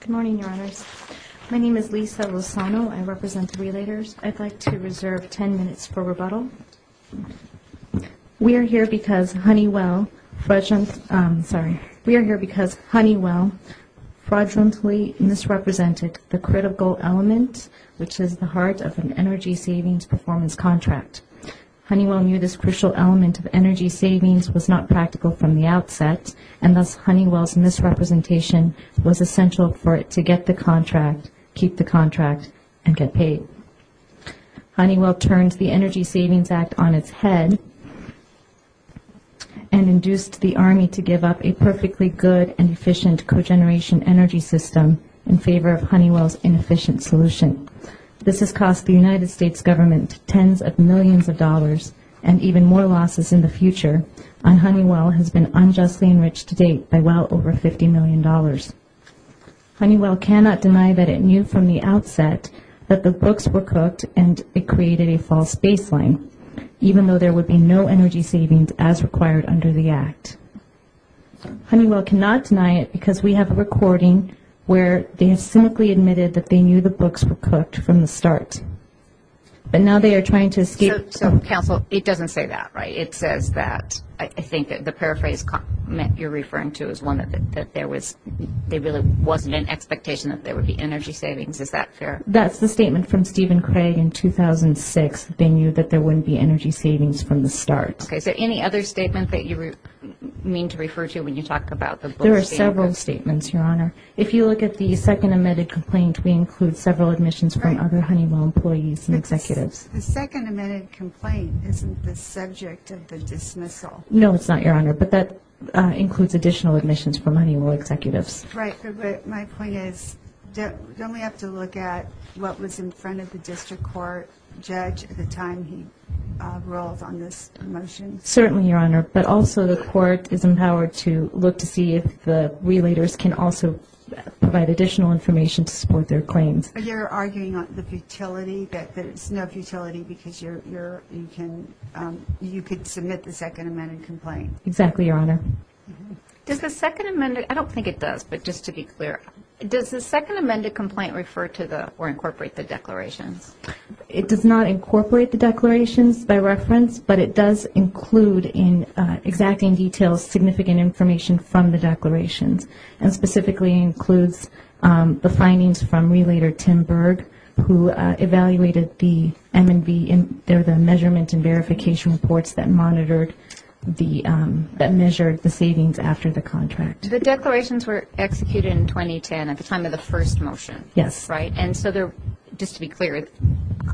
Good morning, Your Honors. My name is Lisa Lozano. I represent the Relators. I'd like to reserve 10 minutes for rebuttal. We are here because Honeywell fraudulently misrepresented the critical element, which is the heart of an energy savings performance contract. Honeywell knew this crucial element of energy savings was not practical from the outset, and thus Honeywell's misrepresentation was essential for it to get the contract, keep the contract, and get paid. Honeywell turned the Energy Savings Act on its head and induced the Army to give up a perfectly good and efficient cogeneration energy system in favor of Honeywell's inefficient solution. This has cost the United States government tens of millions of dollars and even more losses in the future, and Honeywell has been unjustly enriched to date by well over $50 million. Honeywell cannot deny that it knew from the outset that the books were cooked and it created a false baseline, even though there would be no energy savings as required under the Act. Honeywell cannot deny it because we have a recording where they have cynically admitted that they knew the books were cooked from the start. But now they are trying to escape... So, counsel, it doesn't say that, right? It says that, I think the paraphrase you're referring to is one that there was, there really wasn't an expectation that there would be energy savings. Is that fair? That's the statement from Stephen Craig in 2006. They knew that there wouldn't be energy savings from the start. Okay, so any other statement that you mean to refer to when you talk about the books being cooked? There are several statements, Your Honor. If you look at the second amended complaint, we include several admissions from other Honeywell employees and executives. The second amended complaint isn't the subject of the dismissal. No, it's not, Your Honor, but that includes additional admissions from Honeywell executives. Right, but my point is, don't we have to look at what was in front of the district court judge at the time he rolled on this motion? Certainly, Your Honor, but also the court is empowered to look to see if the relators can also provide additional information to support their claims. You're arguing on the futility, that there's no futility because you can submit the second amended complaint. Exactly, Your Honor. Does the second amended, I don't think it does, but just to be clear, does the second amended complaint refer to or incorporate the declarations? It does not incorporate the declarations by reference, but it does include in exacting detail significant information from the declarations, and specifically includes the findings from Relator Tim Berg, who evaluated the M&V, they're the measurement and verification reports that monitored the, that measured the savings after the contract. The declarations were executed in 2010 at the time of the first motion. Yes. Right, and so they're, just to be clear,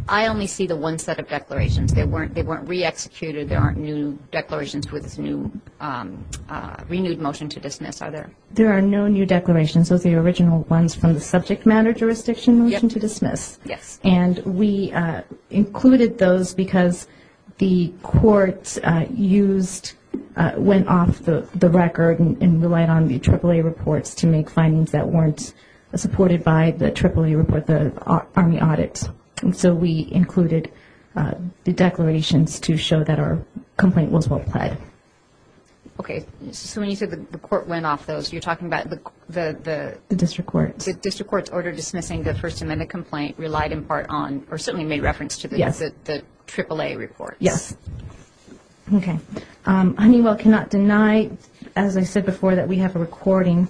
I only see the one set of declarations. They weren't re-executed. There aren't new declarations with renewed motion to dismiss, are there? There are no new declarations. Those are the original ones from the subject matter jurisdiction motion to dismiss. Yes. And we included those because the court used, went off the record and relied on the AAA reports to make findings that weren't supported by the AAA report, the Army audits. And so we included the declarations to show that our complaint was well-played. Okay, so when you said the court went off those, you're talking about the? The district court. The district court's order dismissing the first amended complaint relied in part on or certainly made reference to the AAA reports. Yes. Okay. Honeywell cannot deny, as I said before, that we have a recording,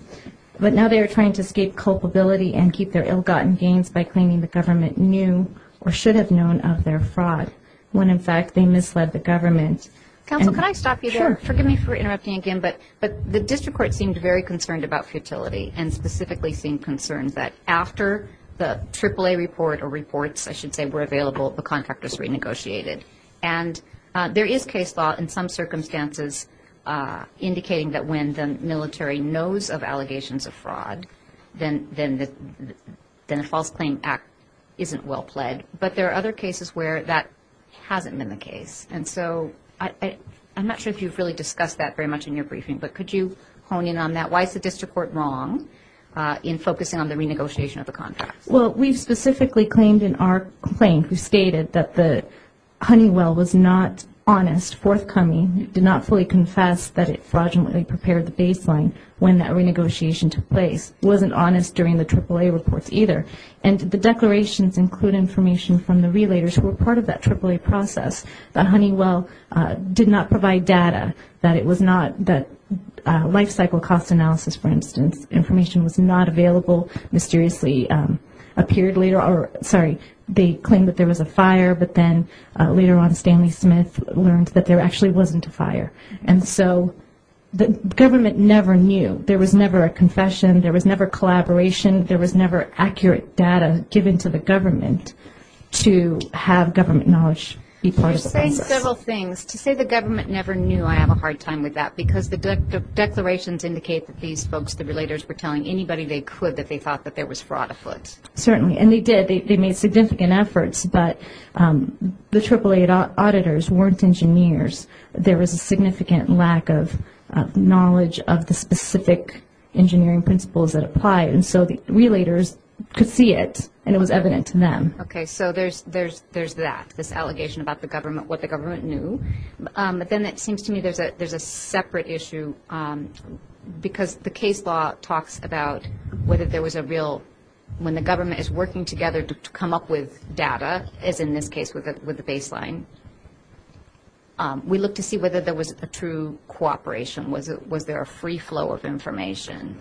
but now they are trying to escape culpability and keep their ill-gotten gains by claiming the government knew or should have known of their fraud when, in fact, they misled the government. Counsel, can I stop you there? Sure. Forgive me for interrupting again, but the district court seemed very concerned about futility and specifically seemed concerned that after the AAA report or reports, I should say, were available, the contractors renegotiated. And there is case law in some circumstances indicating that when the military knows of allegations of fraud, then a false claim act isn't well-played. But there are other cases where that hasn't been the case. And so I'm not sure if you've really discussed that very much in your briefing, but could you hone in on that? Why is the district court wrong in focusing on the renegotiation of the contracts? Well, we specifically claimed in our claim, we stated that the Honeywell was not honest, forthcoming, did not fully confess that it fraudulently prepared the baseline when that renegotiation took place, wasn't honest during the AAA reports either, and the declarations include information from the relators who were part of that AAA process, that Honeywell did not provide data, that it was not, that life cycle cost analysis, for instance, information was not available, mysteriously appeared later, or sorry, they claimed that there was a fire, but then later on Stanley Smith learned that there actually wasn't a fire. And so the government never knew. There was never a confession. There was never collaboration. There was never accurate data given to the government to have government knowledge be part of the process. To say several things, to say the government never knew, I have a hard time with that, because the declarations indicate that these folks, the relators, were telling anybody they could that they thought that there was fraud afoot. Certainly, and they did. They made significant efforts, but the AAA auditors weren't engineers. There was a significant lack of knowledge of the specific engineering principles that apply, and so the relators could see it, and it was evident to them. Okay, so there's that, this allegation about the government, what the government knew. But then it seems to me there's a separate issue, because the case law talks about whether there was a real, when the government is working together to come up with data, as in this case with the baseline, we look to see whether there was a true cooperation. Was there a free flow of information?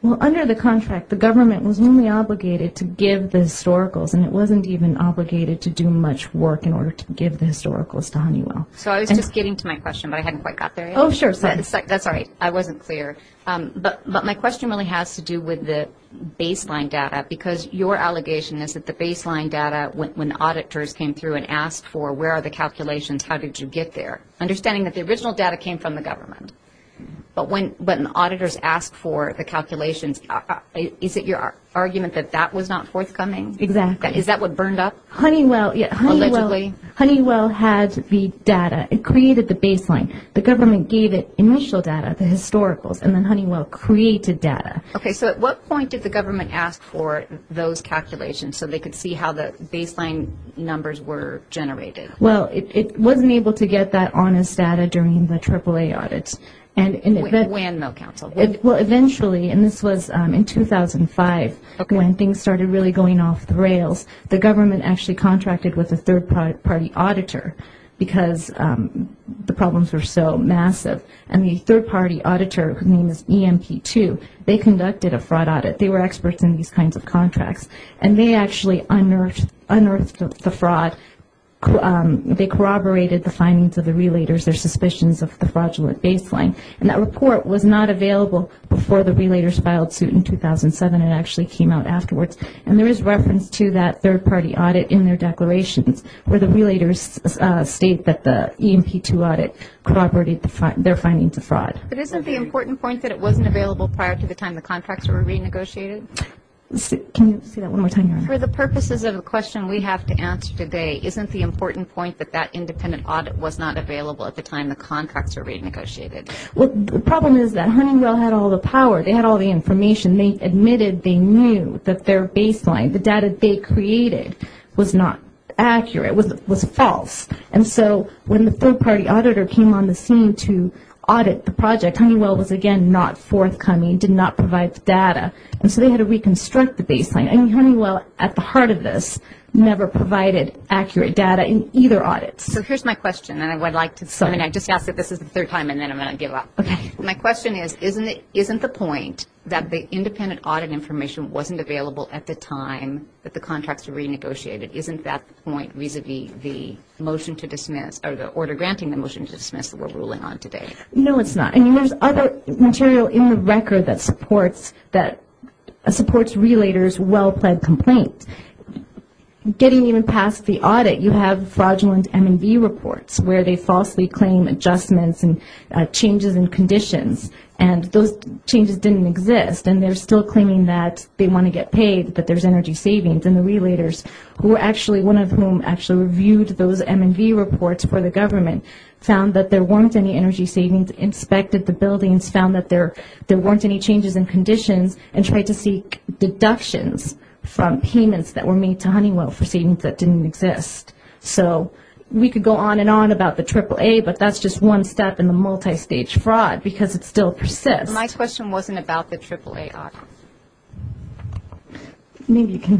Well, under the contract, the government was only obligated to give the historicals, and it wasn't even obligated to do much work in order to give the historicals to Honeywell. So I was just getting to my question, but I hadn't quite got there yet. Oh, sure. That's all right. I wasn't clear. But my question really has to do with the baseline data, because your allegation is that the baseline data, when auditors came through and asked for where are the calculations, how did you get there, understanding that the original data came from the government. But when auditors asked for the calculations, is it your argument that that was not forthcoming? Exactly. Is that what burned up? Honeywell had the data. It created the baseline. The government gave it initial data, the historicals, and then Honeywell created data. Okay. So at what point did the government ask for those calculations so they could see how the baseline numbers were generated? Well, it wasn't able to get that honest data during the AAA audits. When, though, counsel? Well, eventually, and this was in 2005, when things started really going off the rails, the government actually contracted with a third-party auditor because the problems were so massive. And the third-party auditor, whose name is EMP2, they conducted a fraud audit. They were experts in these kinds of contracts. And they actually unearthed the fraud. They corroborated the findings of the relators, their suspicions of the fraudulent baseline. And that report was not available before the relators filed suit in 2007. It actually came out afterwards. And there is reference to that third-party audit in their declarations where the relators state that the EMP2 audit corroborated their findings of fraud. But isn't the important point that it wasn't available prior to the time the contracts were renegotiated? Can you say that one more time? For the purposes of the question we have to answer today, isn't the important point that that independent audit was not available at the time the contracts were renegotiated? Well, the problem is that Honeywell had all the power. They had all the information. They admitted they knew that their baseline, the data they created, was not accurate, was false. And so when the third-party auditor came on the scene to audit the project, Honeywell was again not forthcoming, did not provide the data. And so they had to reconstruct the baseline. And Honeywell, at the heart of this, never provided accurate data in either audits. So here's my question, and I would like to, I mean, I just asked that this is the third time, and then I'm going to give up. Okay. My question is, isn't the point that the independent audit information wasn't available at the time that the contracts were renegotiated, isn't that the point vis-a-vis the motion to dismiss or the order granting the motion to dismiss that we're ruling on today? No, it's not. I mean, there's other material in the record that supports relators' well-planned complaint. Getting even past the audit, you have fraudulent M&V reports where they falsely claim adjustments and changes in conditions, and those changes didn't exist. And they're still claiming that they want to get paid, that there's energy savings. And the relators, who actually, one of whom actually reviewed those M&V reports for the government, found that there weren't any energy savings, inspected the buildings, found that there weren't any changes in conditions, and tried to seek deductions from payments that were made to Honeywell for savings that didn't exist. So we could go on and on about the AAA, but that's just one step in the multistage fraud because it still persists. My question wasn't about the AAA audit. Maybe you can.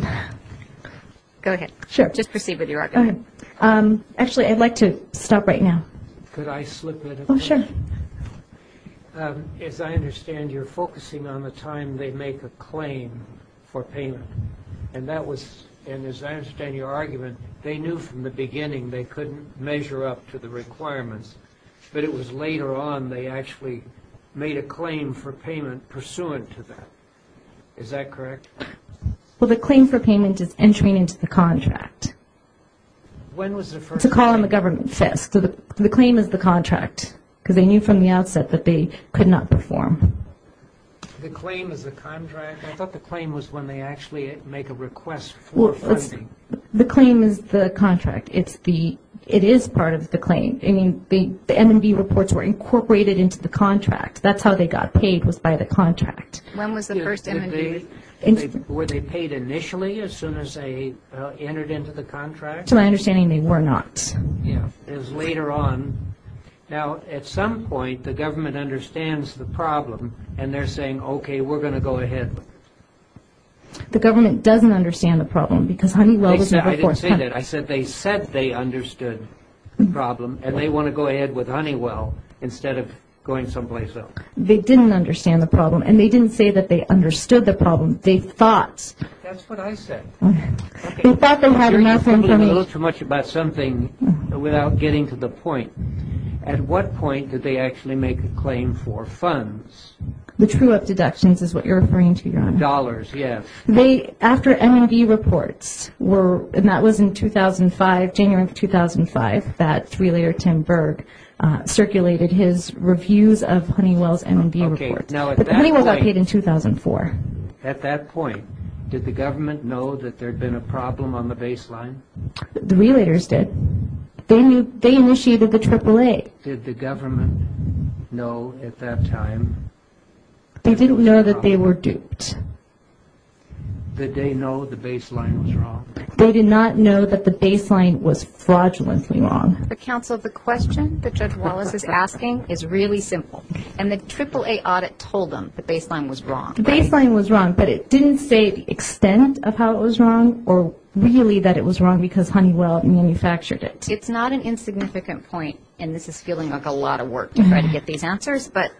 Go ahead. Sure. Just proceed with your argument. Actually, I'd like to stop right now. Could I slip in a question? Oh, sure. As I understand, you're focusing on the time they make a claim for payment. And as I understand your argument, they knew from the beginning they couldn't measure up to the requirements, but it was later on they actually made a claim for payment pursuant to that. Is that correct? Well, the claim for payment is entering into the contract. When was the first? It's a call in the government fist. The claim is the contract because they knew from the outset that they could not perform. The claim is the contract? I thought the claim was when they actually make a request for funding. The claim is the contract. It is part of the claim. I mean, the M&B reports were incorporated into the contract. That's how they got paid was by the contract. When was the first M&B? Were they paid initially as soon as they entered into the contract? To my understanding, they were not. Yeah, it was later on. Now, at some point, the government understands the problem, and they're saying, okay, we're going to go ahead. The government doesn't understand the problem because Honeywell was never forced. I didn't say that. I said they said they understood the problem, and they want to go ahead with Honeywell instead of going someplace else. They didn't understand the problem, and they didn't say that they understood the problem. They thought. That's what I said. They thought they had enough information. You're talking a little too much about something without getting to the point. At what point did they actually make a claim for funds? The true-up deductions is what you're referring to, Your Honor. Dollars, yes. They, after M&B reports were, and that was in 2005, January of 2005, that three-year Tim Berg circulated his reviews of Honeywell's M&B reports. But Honeywell got paid in 2004. At that point, did the government know that there had been a problem on the baseline? The relators did. They initiated the AAA. Did the government know at that time? They didn't know that they were duped. Did they know the baseline was wrong? They did not know that the baseline was fraudulently wrong. The counsel, the question that Judge Wallace is asking is really simple, and the AAA audit told them the baseline was wrong. The baseline was wrong, but it didn't say the extent of how it was wrong or really that it was wrong because Honeywell manufactured it. It's not an insignificant point, and this is feeling like a lot of work to try to get these answers, but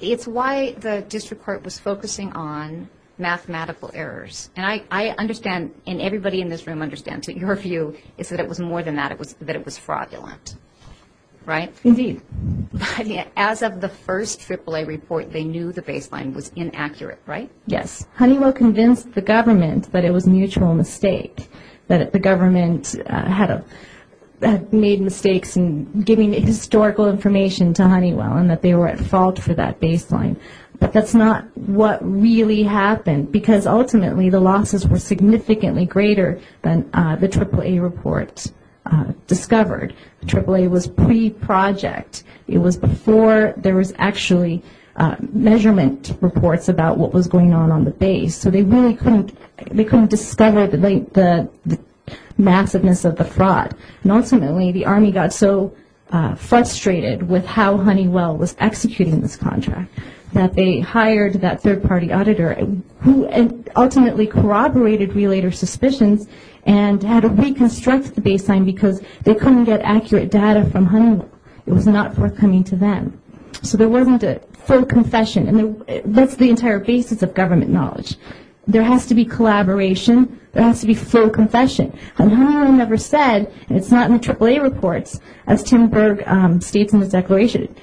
it's why the district court was focusing on mathematical errors. And I understand, and everybody in this room understands, that your view is that it was more than that, that it was fraudulent, right? Indeed. But as of the first AAA report, they knew the baseline was inaccurate, right? Yes. Honeywell convinced the government that it was a mutual mistake, that the government had made mistakes in giving historical information to Honeywell and that they were at fault for that baseline. But that's not what really happened because ultimately the losses were significantly greater than the AAA report discovered. AAA was pre-project. It was before there was actually measurement reports about what was going on on the base, so they really couldn't discover the massiveness of the fraud. And ultimately the Army got so frustrated with how Honeywell was executing this contract that they hired that third-party auditor who ultimately corroborated realtor suspicions and had to reconstruct the baseline because they couldn't get accurate data from Honeywell. It was not forthcoming to them. So there wasn't a full confession. And that's the entire basis of government knowledge. There has to be collaboration. There has to be full confession. And Honeywell never said, and it's not in the AAA reports, as Tim Berg states in his declaration,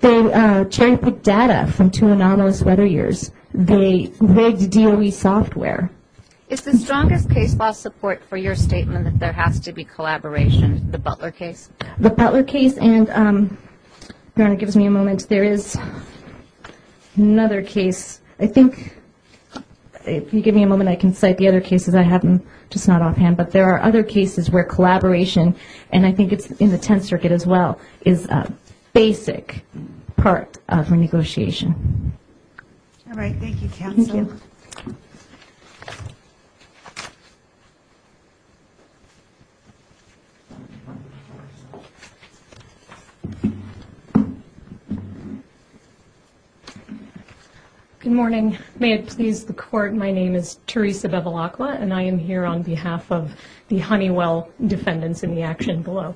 they cherry-picked data from two anomalous weather years. They rigged DOE software. It's the strongest case law support for your statement that there has to be collaboration, the Butler case? The Butler case and, Your Honor, give me a moment. There is another case. I think if you give me a moment I can cite the other cases. I have them just not offhand. But there are other cases where collaboration, and I think it's in the Tenth Circuit as well, is a basic part of a negotiation. All right. Thank you, counsel. Thank you. Good morning. May it please the Court, my name is Teresa Bevilacqua, and I am here on behalf of the Honeywell defendants in the action below.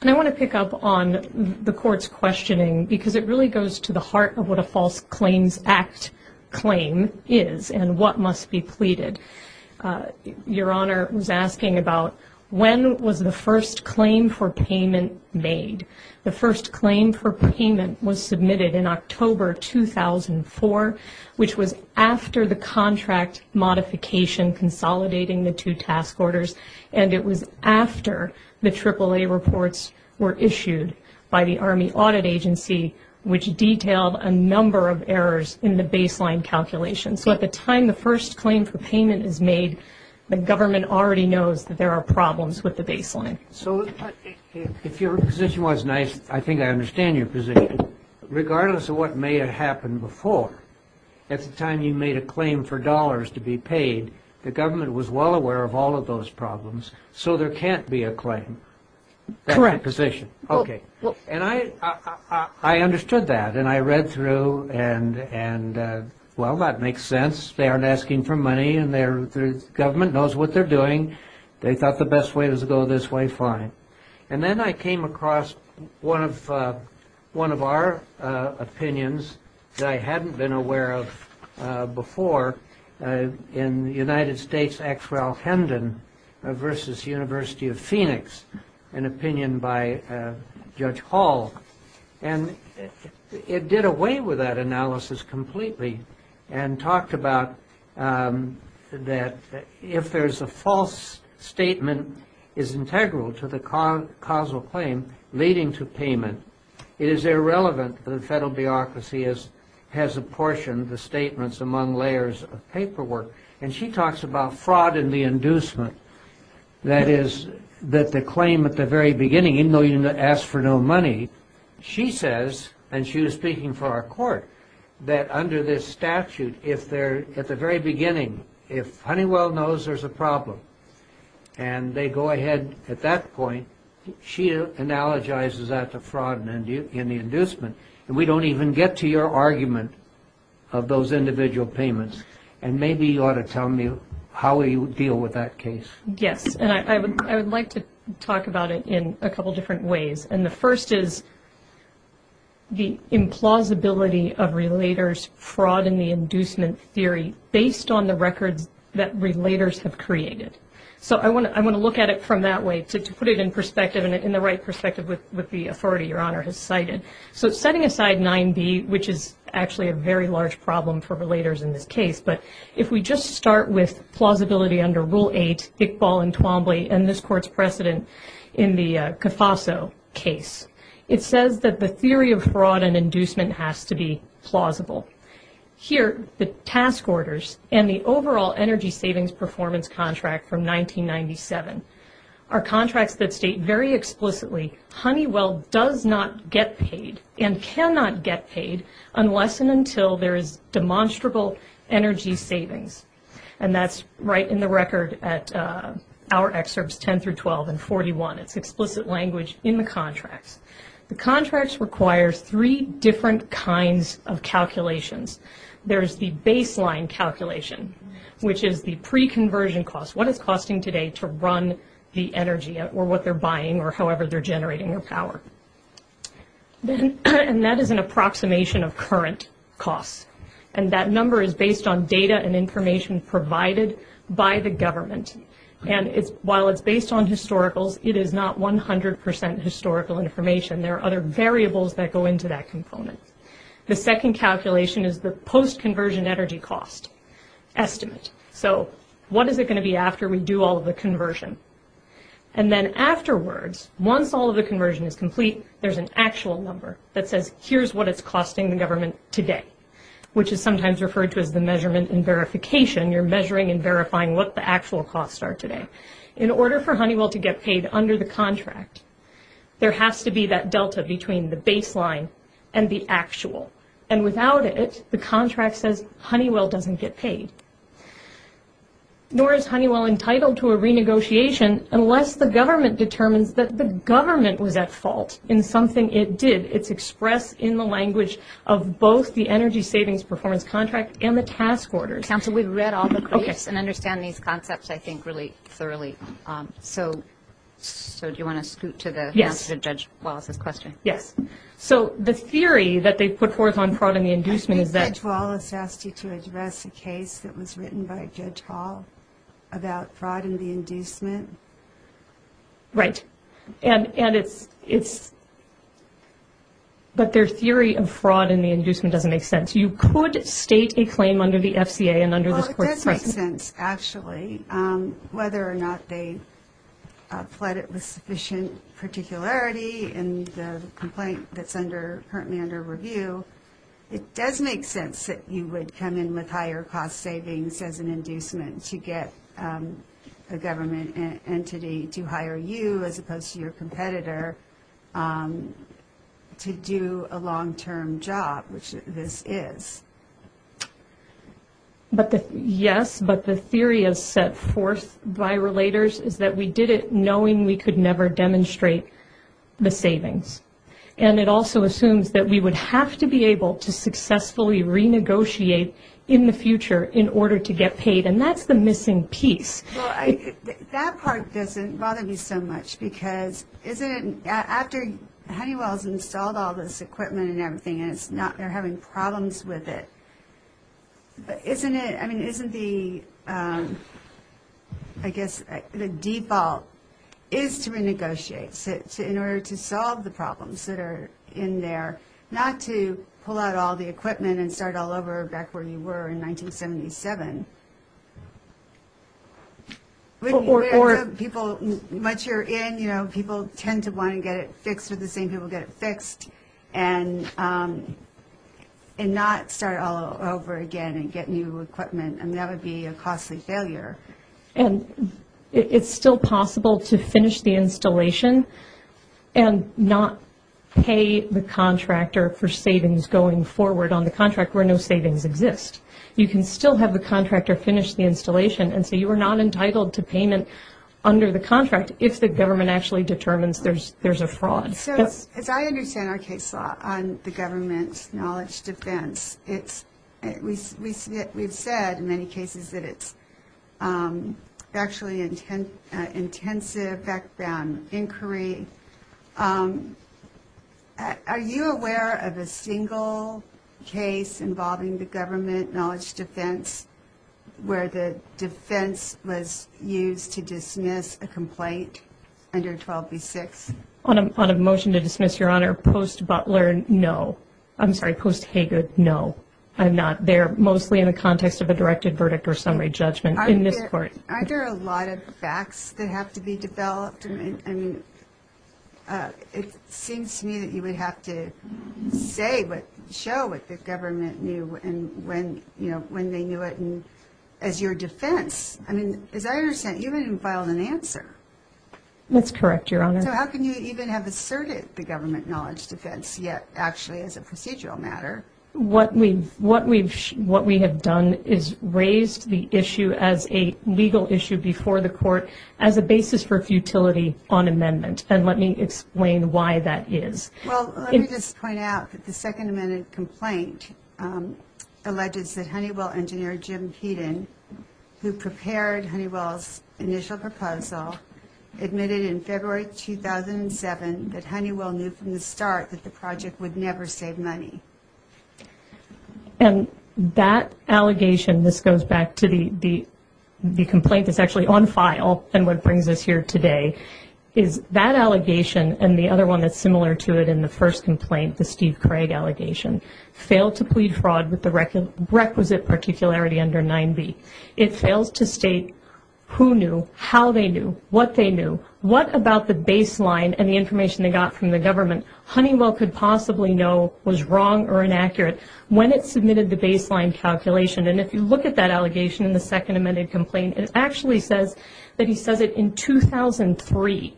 And I want to pick up on the Court's questioning because it really goes to the heart of what a False Claims Act claim is and what must be pleaded. Your Honor was asking about when was the first claim for payment made. The first claim for payment was submitted in October 2004, which was after the contract modification consolidating the two task orders, and it was after the AAA reports were issued by the Army Audit Agency, which detailed a number of errors in the baseline calculations. So at the time the first claim for payment is made, the government already knows that there are problems with the baseline. So if your position was nice, I think I understand your position. Regardless of what may have happened before, at the time you made a claim for dollars to be paid, the government was well aware of all of those problems, so there can't be a claim. Correct. That's your position. Okay. And I understood that and I read through and, well, that makes sense. They aren't asking for money and the government knows what they're doing. They thought the best way was to go this way, fine. And then I came across one of our opinions that I hadn't been aware of before in the United States' X. Ralph Hendon versus University of Phoenix, an opinion by Judge Hall. And it did away with that analysis completely and talked about that if there's a false statement is integral to the causal claim leading to payment, it is irrelevant that the federal bureaucracy has apportioned the statements among layers of paperwork. And she talks about fraud and the inducement, that is that the claim at the very beginning, even though you asked for no money, she says, and she was speaking for our court, that under this statute if they're at the very beginning, if Honeywell knows there's a problem and they go ahead at that point, she analogizes that to fraud and the inducement. And we don't even get to your argument of those individual payments. And maybe you ought to tell me how you deal with that case. Yes, and I would like to talk about it in a couple different ways. And the first is the implausibility of relators' fraud and the inducement theory based on the records that relators have created. So I want to look at it from that way to put it in perspective and in the right perspective with the authority Your Honor has cited. So setting aside 9B, which is actually a very large problem for relators in this case, but if we just start with plausibility under Rule 8, Iqbal and Twombly, and this Court's precedent in the Cofaso case, it says that the theory of fraud and inducement has to be plausible. Here, the task orders and the overall energy savings performance contract from 1997 are contracts that state very explicitly Honeywell does not get paid and cannot get paid unless and until there is demonstrable energy savings. And that's right in the record at our excerpts 10 through 12 and 41. It's explicit language in the contracts. The contracts require three different kinds of calculations. There's the baseline calculation, which is the pre-conversion cost, what it's costing today to run the energy or what they're buying or however they're generating their power. And that is an approximation of current costs, and that number is based on data and information provided by the government. And while it's based on historicals, it is not 100% historical information. There are other variables that go into that component. The second calculation is the post-conversion energy cost estimate. So what is it going to be after we do all of the conversion? And then afterwards, once all of the conversion is complete, there's an actual number that says here's what it's costing the government today, which is sometimes referred to as the measurement and verification. You're measuring and verifying what the actual costs are today. In order for Honeywell to get paid under the contract, there has to be that delta between the baseline and the actual. And without it, the contract says Honeywell doesn't get paid. Nor is Honeywell entitled to a renegotiation unless the government determines that the government was at fault in something it did. It's expressed in the language of both the energy savings performance contract and the task orders. Counsel, we've read all the briefs and understand these concepts, I think, really thoroughly. So do you want to scoot to the answer to Judge Wallace's question? Yes. So the theory that they put forth on fraud and the inducement is that – I think Judge Wallace asked you to address a case that was written by Judge Hall about fraud and the inducement. Right. And it's – but their theory of fraud and the inducement doesn't make sense. You could state a claim under the FCA and under this court's precedent. Well, it does make sense, actually. Whether or not they fled it with sufficient particularity in the complaint that's currently under review, it does make sense that you would come in with higher cost savings as an inducement to get a government entity to hire you as opposed to your competitor to do a long-term job, which this is. Yes, but the theory set forth by relators is that we did it knowing we could never demonstrate the savings. And it also assumes that we would have to be able to successfully renegotiate in the future in order to get paid, and that's the missing piece. Well, that part doesn't bother me so much because isn't it – after Honeywell's installed all this equipment and everything and it's not – they're having problems with it. Isn't it – I mean, isn't the – I guess the default is to renegotiate in order to solve the problems that are in there, not to pull out all the equipment and start all over back where you were in 1977? Or – People – once you're in, you know, people tend to want to get it fixed or the same people get it fixed and not start all over again and get new equipment, and that would be a costly failure. And it's still possible to finish the installation and not pay the contractor for savings going forward on the contract where no savings exist. You can still have the contractor finish the installation, and so you are not entitled to payment under the contract if the government actually determines there's a fraud. So as I understand our case law on the government's knowledge defense, it's – we've said in many cases that it's actually an intensive background inquiry. Are you aware of a single case involving the government knowledge defense where the defense was used to dismiss a complaint under 12b-6? On a motion to dismiss, Your Honor, post-Butler, no. I'm sorry, post-Haygood, no, I'm not. They're mostly in the context of a directed verdict or summary judgment in this court. Aren't there a lot of facts that have to be developed? I mean, it seems to me that you would have to say but show what the government knew and when they knew it as your defense. I mean, as I understand, you haven't even filed an answer. That's correct, Your Honor. So how can you even have asserted the government knowledge defense yet actually as a procedural matter? What we have done is raised the issue as a legal issue before the court as a basis for futility on amendment, and let me explain why that is. Well, let me just point out that the Second Amendment complaint alleges that Honeywell engineer Jim Peden, who prepared Honeywell's initial proposal, admitted in February 2007 that Honeywell knew from the start that the project would never save money. And that allegation, this goes back to the complaint that's actually on file and what brings us here today, is that allegation and the other one that's similar to it in the first complaint, the Steve Craig allegation, failed to plead fraud with the requisite particularity under 9b. It fails to state who knew, how they knew, what they knew, what about the baseline and the information they got from the government Honeywell could possibly know was wrong or inaccurate when it submitted the baseline calculation. And if you look at that allegation in the Second Amendment complaint, it actually says that he says it in 2003,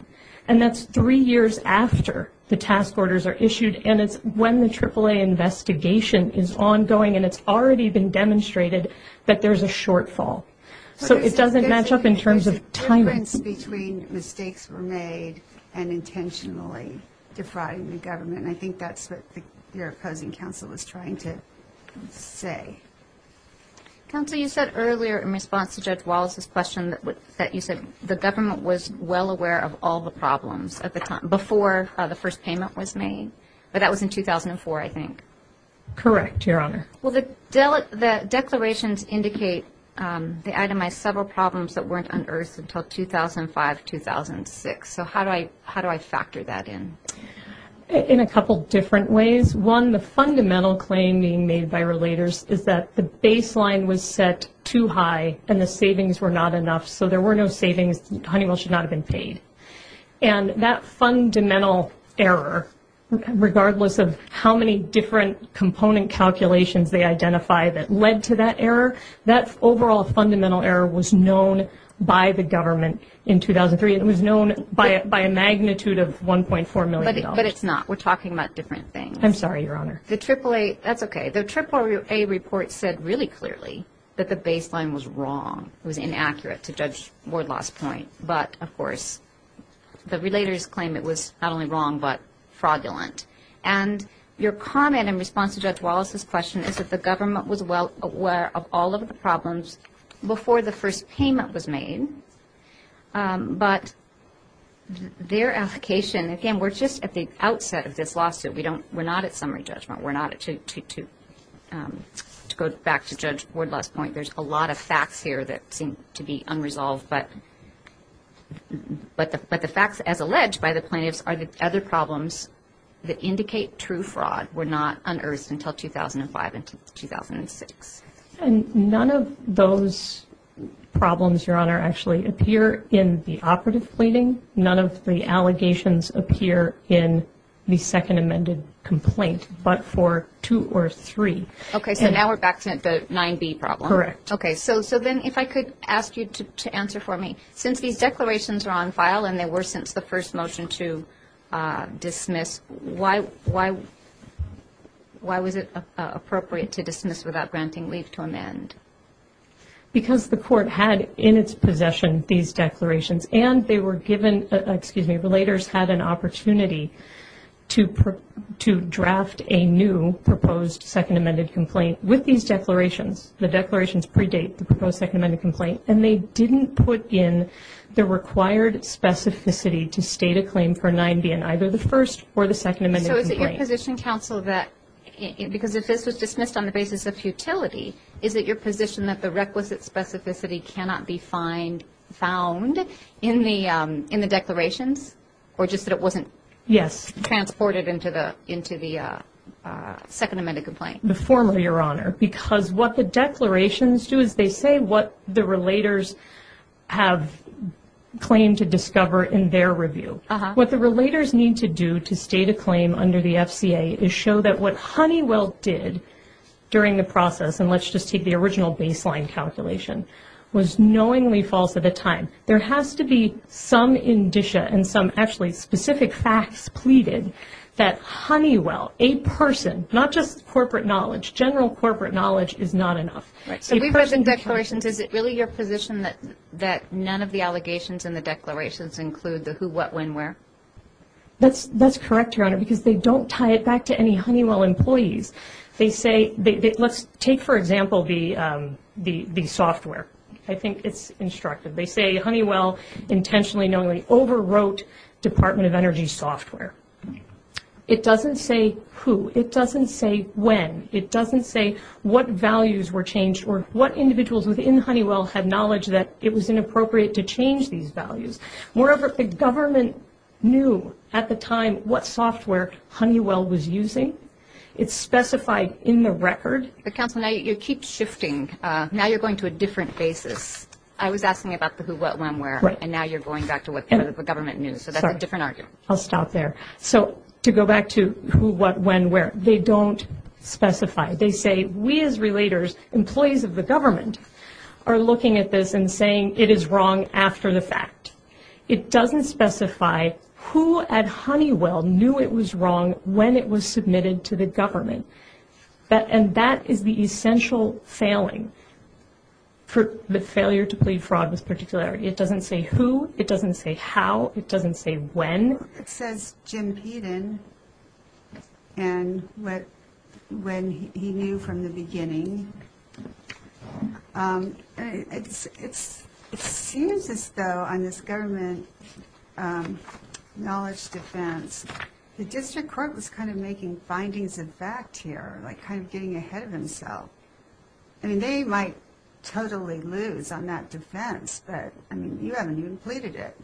and that's three years after the task orders are issued, and it's when the AAA investigation is ongoing and it's already been demonstrated that there's a shortfall. So it doesn't match up in terms of timing. The difference between mistakes were made and intentionally defrauding the government, and I think that's what your opposing counsel is trying to say. Counsel, you said earlier in response to Judge Wallace's question that you said the government was well aware of all the problems before the first payment was made, but that was in 2004, I think. Correct, Your Honor. Well, the declarations indicate they itemized several problems that weren't unearthed until 2005, 2006. So how do I factor that in? In a couple different ways. One, the fundamental claim being made by relators is that the baseline was set too high and the savings were not enough, so there were no savings. Honeywell should not have been paid. And that fundamental error, regardless of how many different component calculations they identified that led to that error, that overall fundamental error was known by the government in 2003. It was known by a magnitude of $1.4 million. But it's not. We're talking about different things. I'm sorry, Your Honor. The AAA, that's okay. The AAA report said really clearly that the baseline was wrong. It was inaccurate, to Judge Wardlaw's point. But, of course, the relators claim it was not only wrong but fraudulent. And your comment in response to Judge Wallace's question is that the government was well aware of all of the problems before the first payment was made, but their application, again, we're just at the outset of this lawsuit. We're not at summary judgment. We're not at to go back to Judge Wardlaw's point. There's a lot of facts here that seem to be unresolved. But the facts, as alleged by the plaintiffs, are that other problems that indicate true fraud were not unearthed until 2005 and 2006. And none of those problems, Your Honor, actually appear in the operative pleading. None of the allegations appear in the second amended complaint but for two or three. Okay, so now we're back to the 9B problem. Correct. Okay, so then if I could ask you to answer for me. Since these declarations are on file and they were since the first motion to dismiss, why was it appropriate to dismiss without granting leave to amend? Because the court had in its possession these declarations and they were given, excuse me, relators had an opportunity to draft a new proposed second amended complaint. With these declarations, the declarations predate the proposed second amended complaint, and they didn't put in the required specificity to state a claim for 9B in either the first or the second amended complaint. So is it your position, counsel, that because if this was dismissed on the basis of futility, is it your position that the requisite specificity cannot be found in the declarations? Or just that it wasn't transported into the second amended complaint? The former, Your Honor. Because what the declarations do is they say what the relators have claimed to discover in their review. What the relators need to do to state a claim under the FCA is show that what Honeywell did during the process, and let's just take the original baseline calculation, was knowingly false at the time. There has to be some indicia and some actually specific facts pleaded that Honeywell, a person, not just corporate knowledge, general corporate knowledge is not enough. So we've heard in declarations, is it really your position that none of the allegations in the declarations include the who, what, when, where? That's correct, Your Honor, because they don't tie it back to any Honeywell employees. Let's take, for example, the software. I think it's instructive. They say Honeywell intentionally knowingly overwrote Department of Energy software. It doesn't say who. It doesn't say when. It doesn't say what values were changed or what individuals within Honeywell had knowledge that it was inappropriate to change these values. Moreover, the government knew at the time what software Honeywell was using. It's specified in the record. But, Counsel, you keep shifting. Now you're going to a different basis. I was asking about the who, what, when, where, and now you're going back to what the government knew. So that's a different argument. I'll stop there. So to go back to who, what, when, where, they don't specify. They say we as relators, employees of the government, are looking at this and saying it is wrong after the fact. It doesn't specify who at Honeywell knew it was wrong when it was submitted to the government. And that is the essential failing for the failure to plead fraud with particularity. It doesn't say who. It doesn't say how. It doesn't say when. It says Jim Peden and when he knew from the beginning. It seems as though on this government knowledge defense, the district court was kind of making findings of fact here, like kind of getting ahead of himself. I mean, they might totally lose on that defense, but, I mean, you haven't even pleaded it.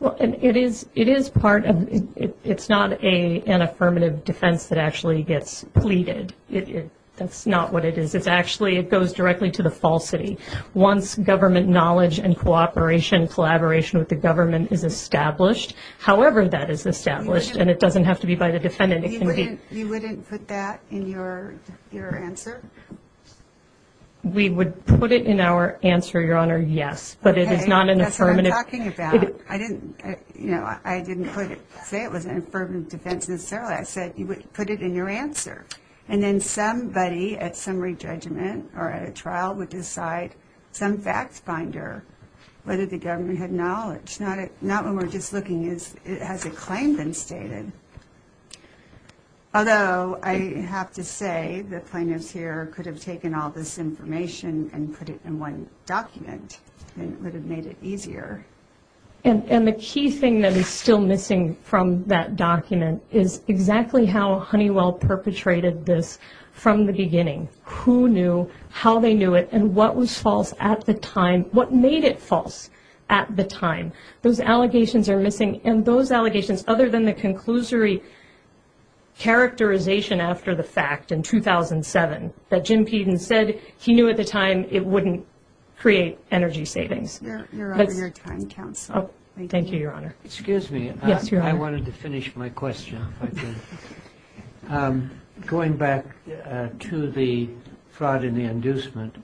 Well, and it is part of, it's not an affirmative defense that actually gets pleaded. That's not what it is. It's actually, it goes directly to the falsity. Once government knowledge and cooperation, collaboration with the government is established, however that is established, and it doesn't have to be by the defendant. You wouldn't put that in your answer? We would put it in our answer, Your Honor, yes. But it is not an affirmative. Okay, that's what I'm talking about. I didn't, you know, I didn't say it was an affirmative defense necessarily. I said you would put it in your answer. And then somebody at summary judgment or at a trial would decide, some facts binder, whether the government had knowledge. Not when we're just looking, has a claim been stated? Although I have to say the plaintiffs here could have taken all this information and put it in one document, and it would have made it easier. And the key thing that is still missing from that document is exactly how Honeywell perpetrated this from the beginning. Who knew, how they knew it, and what was false at the time? What made it false at the time? Those allegations are missing, and those allegations, other than the conclusory characterization after the fact in 2007, that Jim Peden said he knew at the time it wouldn't create energy savings. Your Honor, your time counts. Thank you, Your Honor. Excuse me. Yes, Your Honor. I wanted to finish my question, if I could. Going back to the fraud and the inducement,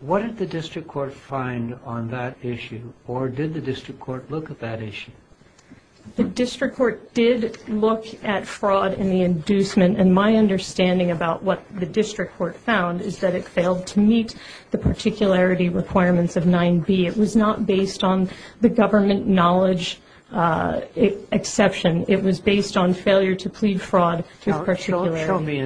what did the district court find on that issue, or did the district court look at that issue? The district court did look at fraud and the inducement, and my understanding about what the district court found is that it failed to meet the particularity requirements of 9b. It was not based on the government knowledge exception. It was based on failure to plead fraud with particularity. Show me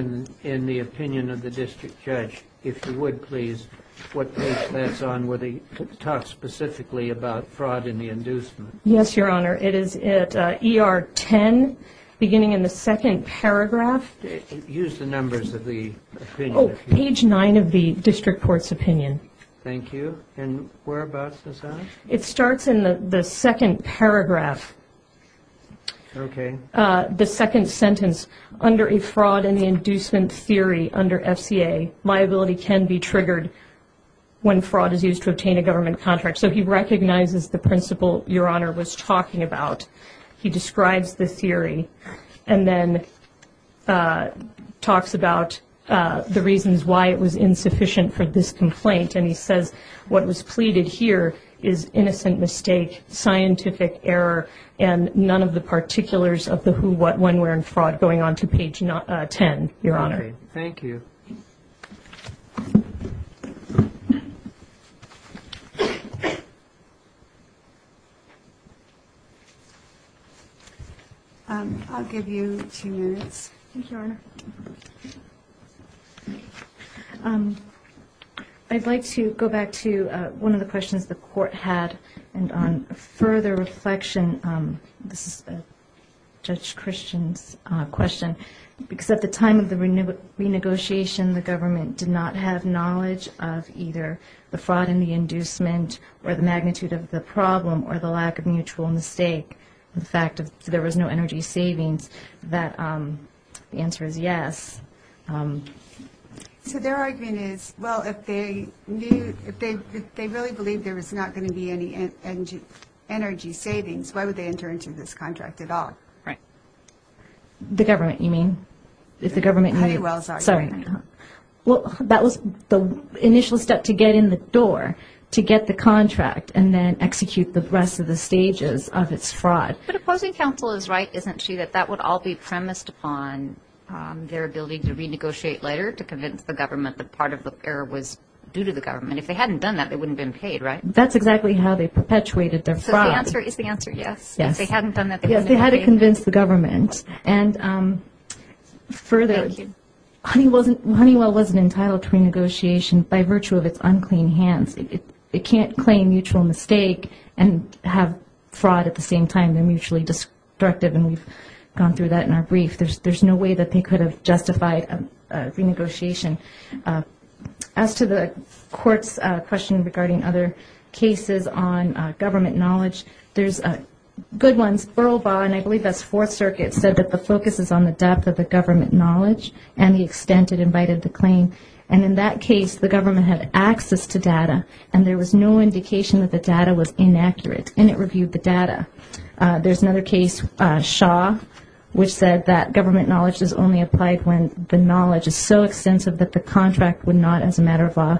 in the opinion of the district judge, if you would, please, what page that's on where they talk specifically about fraud and the inducement. Yes, Your Honor. It is at ER 10, beginning in the second paragraph. Use the numbers of the opinion. Page 9 of the district court's opinion. Thank you. And whereabouts is that? It starts in the second paragraph. Okay. The second sentence, under a fraud and the inducement theory under FCA, liability can be triggered when fraud is used to obtain a government contract. So he recognizes the principle Your Honor was talking about. He describes the theory and then talks about the reasons why it was insufficient for this complaint, and he says what was pleaded here is innocent mistake, scientific error, and none of the particulars of the who, what, when, where, and fraud going on to page 10, Your Honor. Thank you. I'll give you two minutes. Thank you, Your Honor. I'd like to go back to one of the questions the court had, and on further reflection, this is Judge Christian's question, because at the time of the renegotiation, the government did not have knowledge of either the fraud and the inducement or the magnitude of the problem or the lack of mutual mistake. The fact that there was no energy savings, the answer is yes. So their argument is, well, if they really believed there was not going to be any energy savings, why would they enter into this contract at all? Right. The government, you mean? Well, that was the initial step to get in the door to get the contract and then execute the rest of the stages of its fraud. But opposing counsel is right, isn't she, that that would all be premised upon their ability to renegotiate later to convince the government that part of the error was due to the government. If they hadn't done that, they wouldn't have been paid, right? That's exactly how they perpetuated their fraud. So the answer is the answer yes? Yes. If they hadn't done that, they wouldn't have been paid? Yes, they had to convince the government. And further, Honeywell wasn't entitled to renegotiation by virtue of its unclean hands. It can't claim mutual mistake and have fraud at the same time. They're mutually destructive, and we've gone through that in our brief. There's no way that they could have justified a renegotiation. As to the court's question regarding other cases on government knowledge, there's good ones. Earl Baugh, and I believe that's Fourth Circuit, said that the focus is on the depth of the government knowledge and the extent it invited the claim. And in that case, the government had access to data, and there was no indication that the data was inaccurate, and it reviewed the data. There's another case, Shaw, which said that government knowledge is only applied when the knowledge is so extensive that the contractor would not, as a matter of law,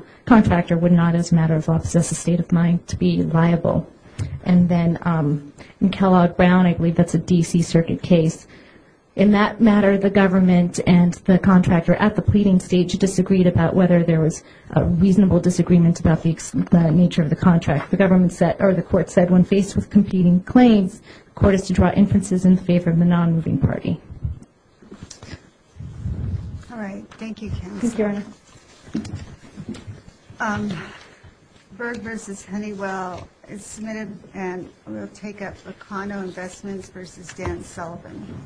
and then Kellogg-Brown, I believe that's a D.C. Circuit case. In that matter, the government and the contractor at the pleading stage disagreed about whether there was a reasonable disagreement about the nature of the contract. The court said when faced with competing claims, the court is to draw inferences in favor of the non-moving party. Thank you, Your Honor. Berg v. Honeywell is submitted, and we'll take up Locano Investments v. Dan Sullivan.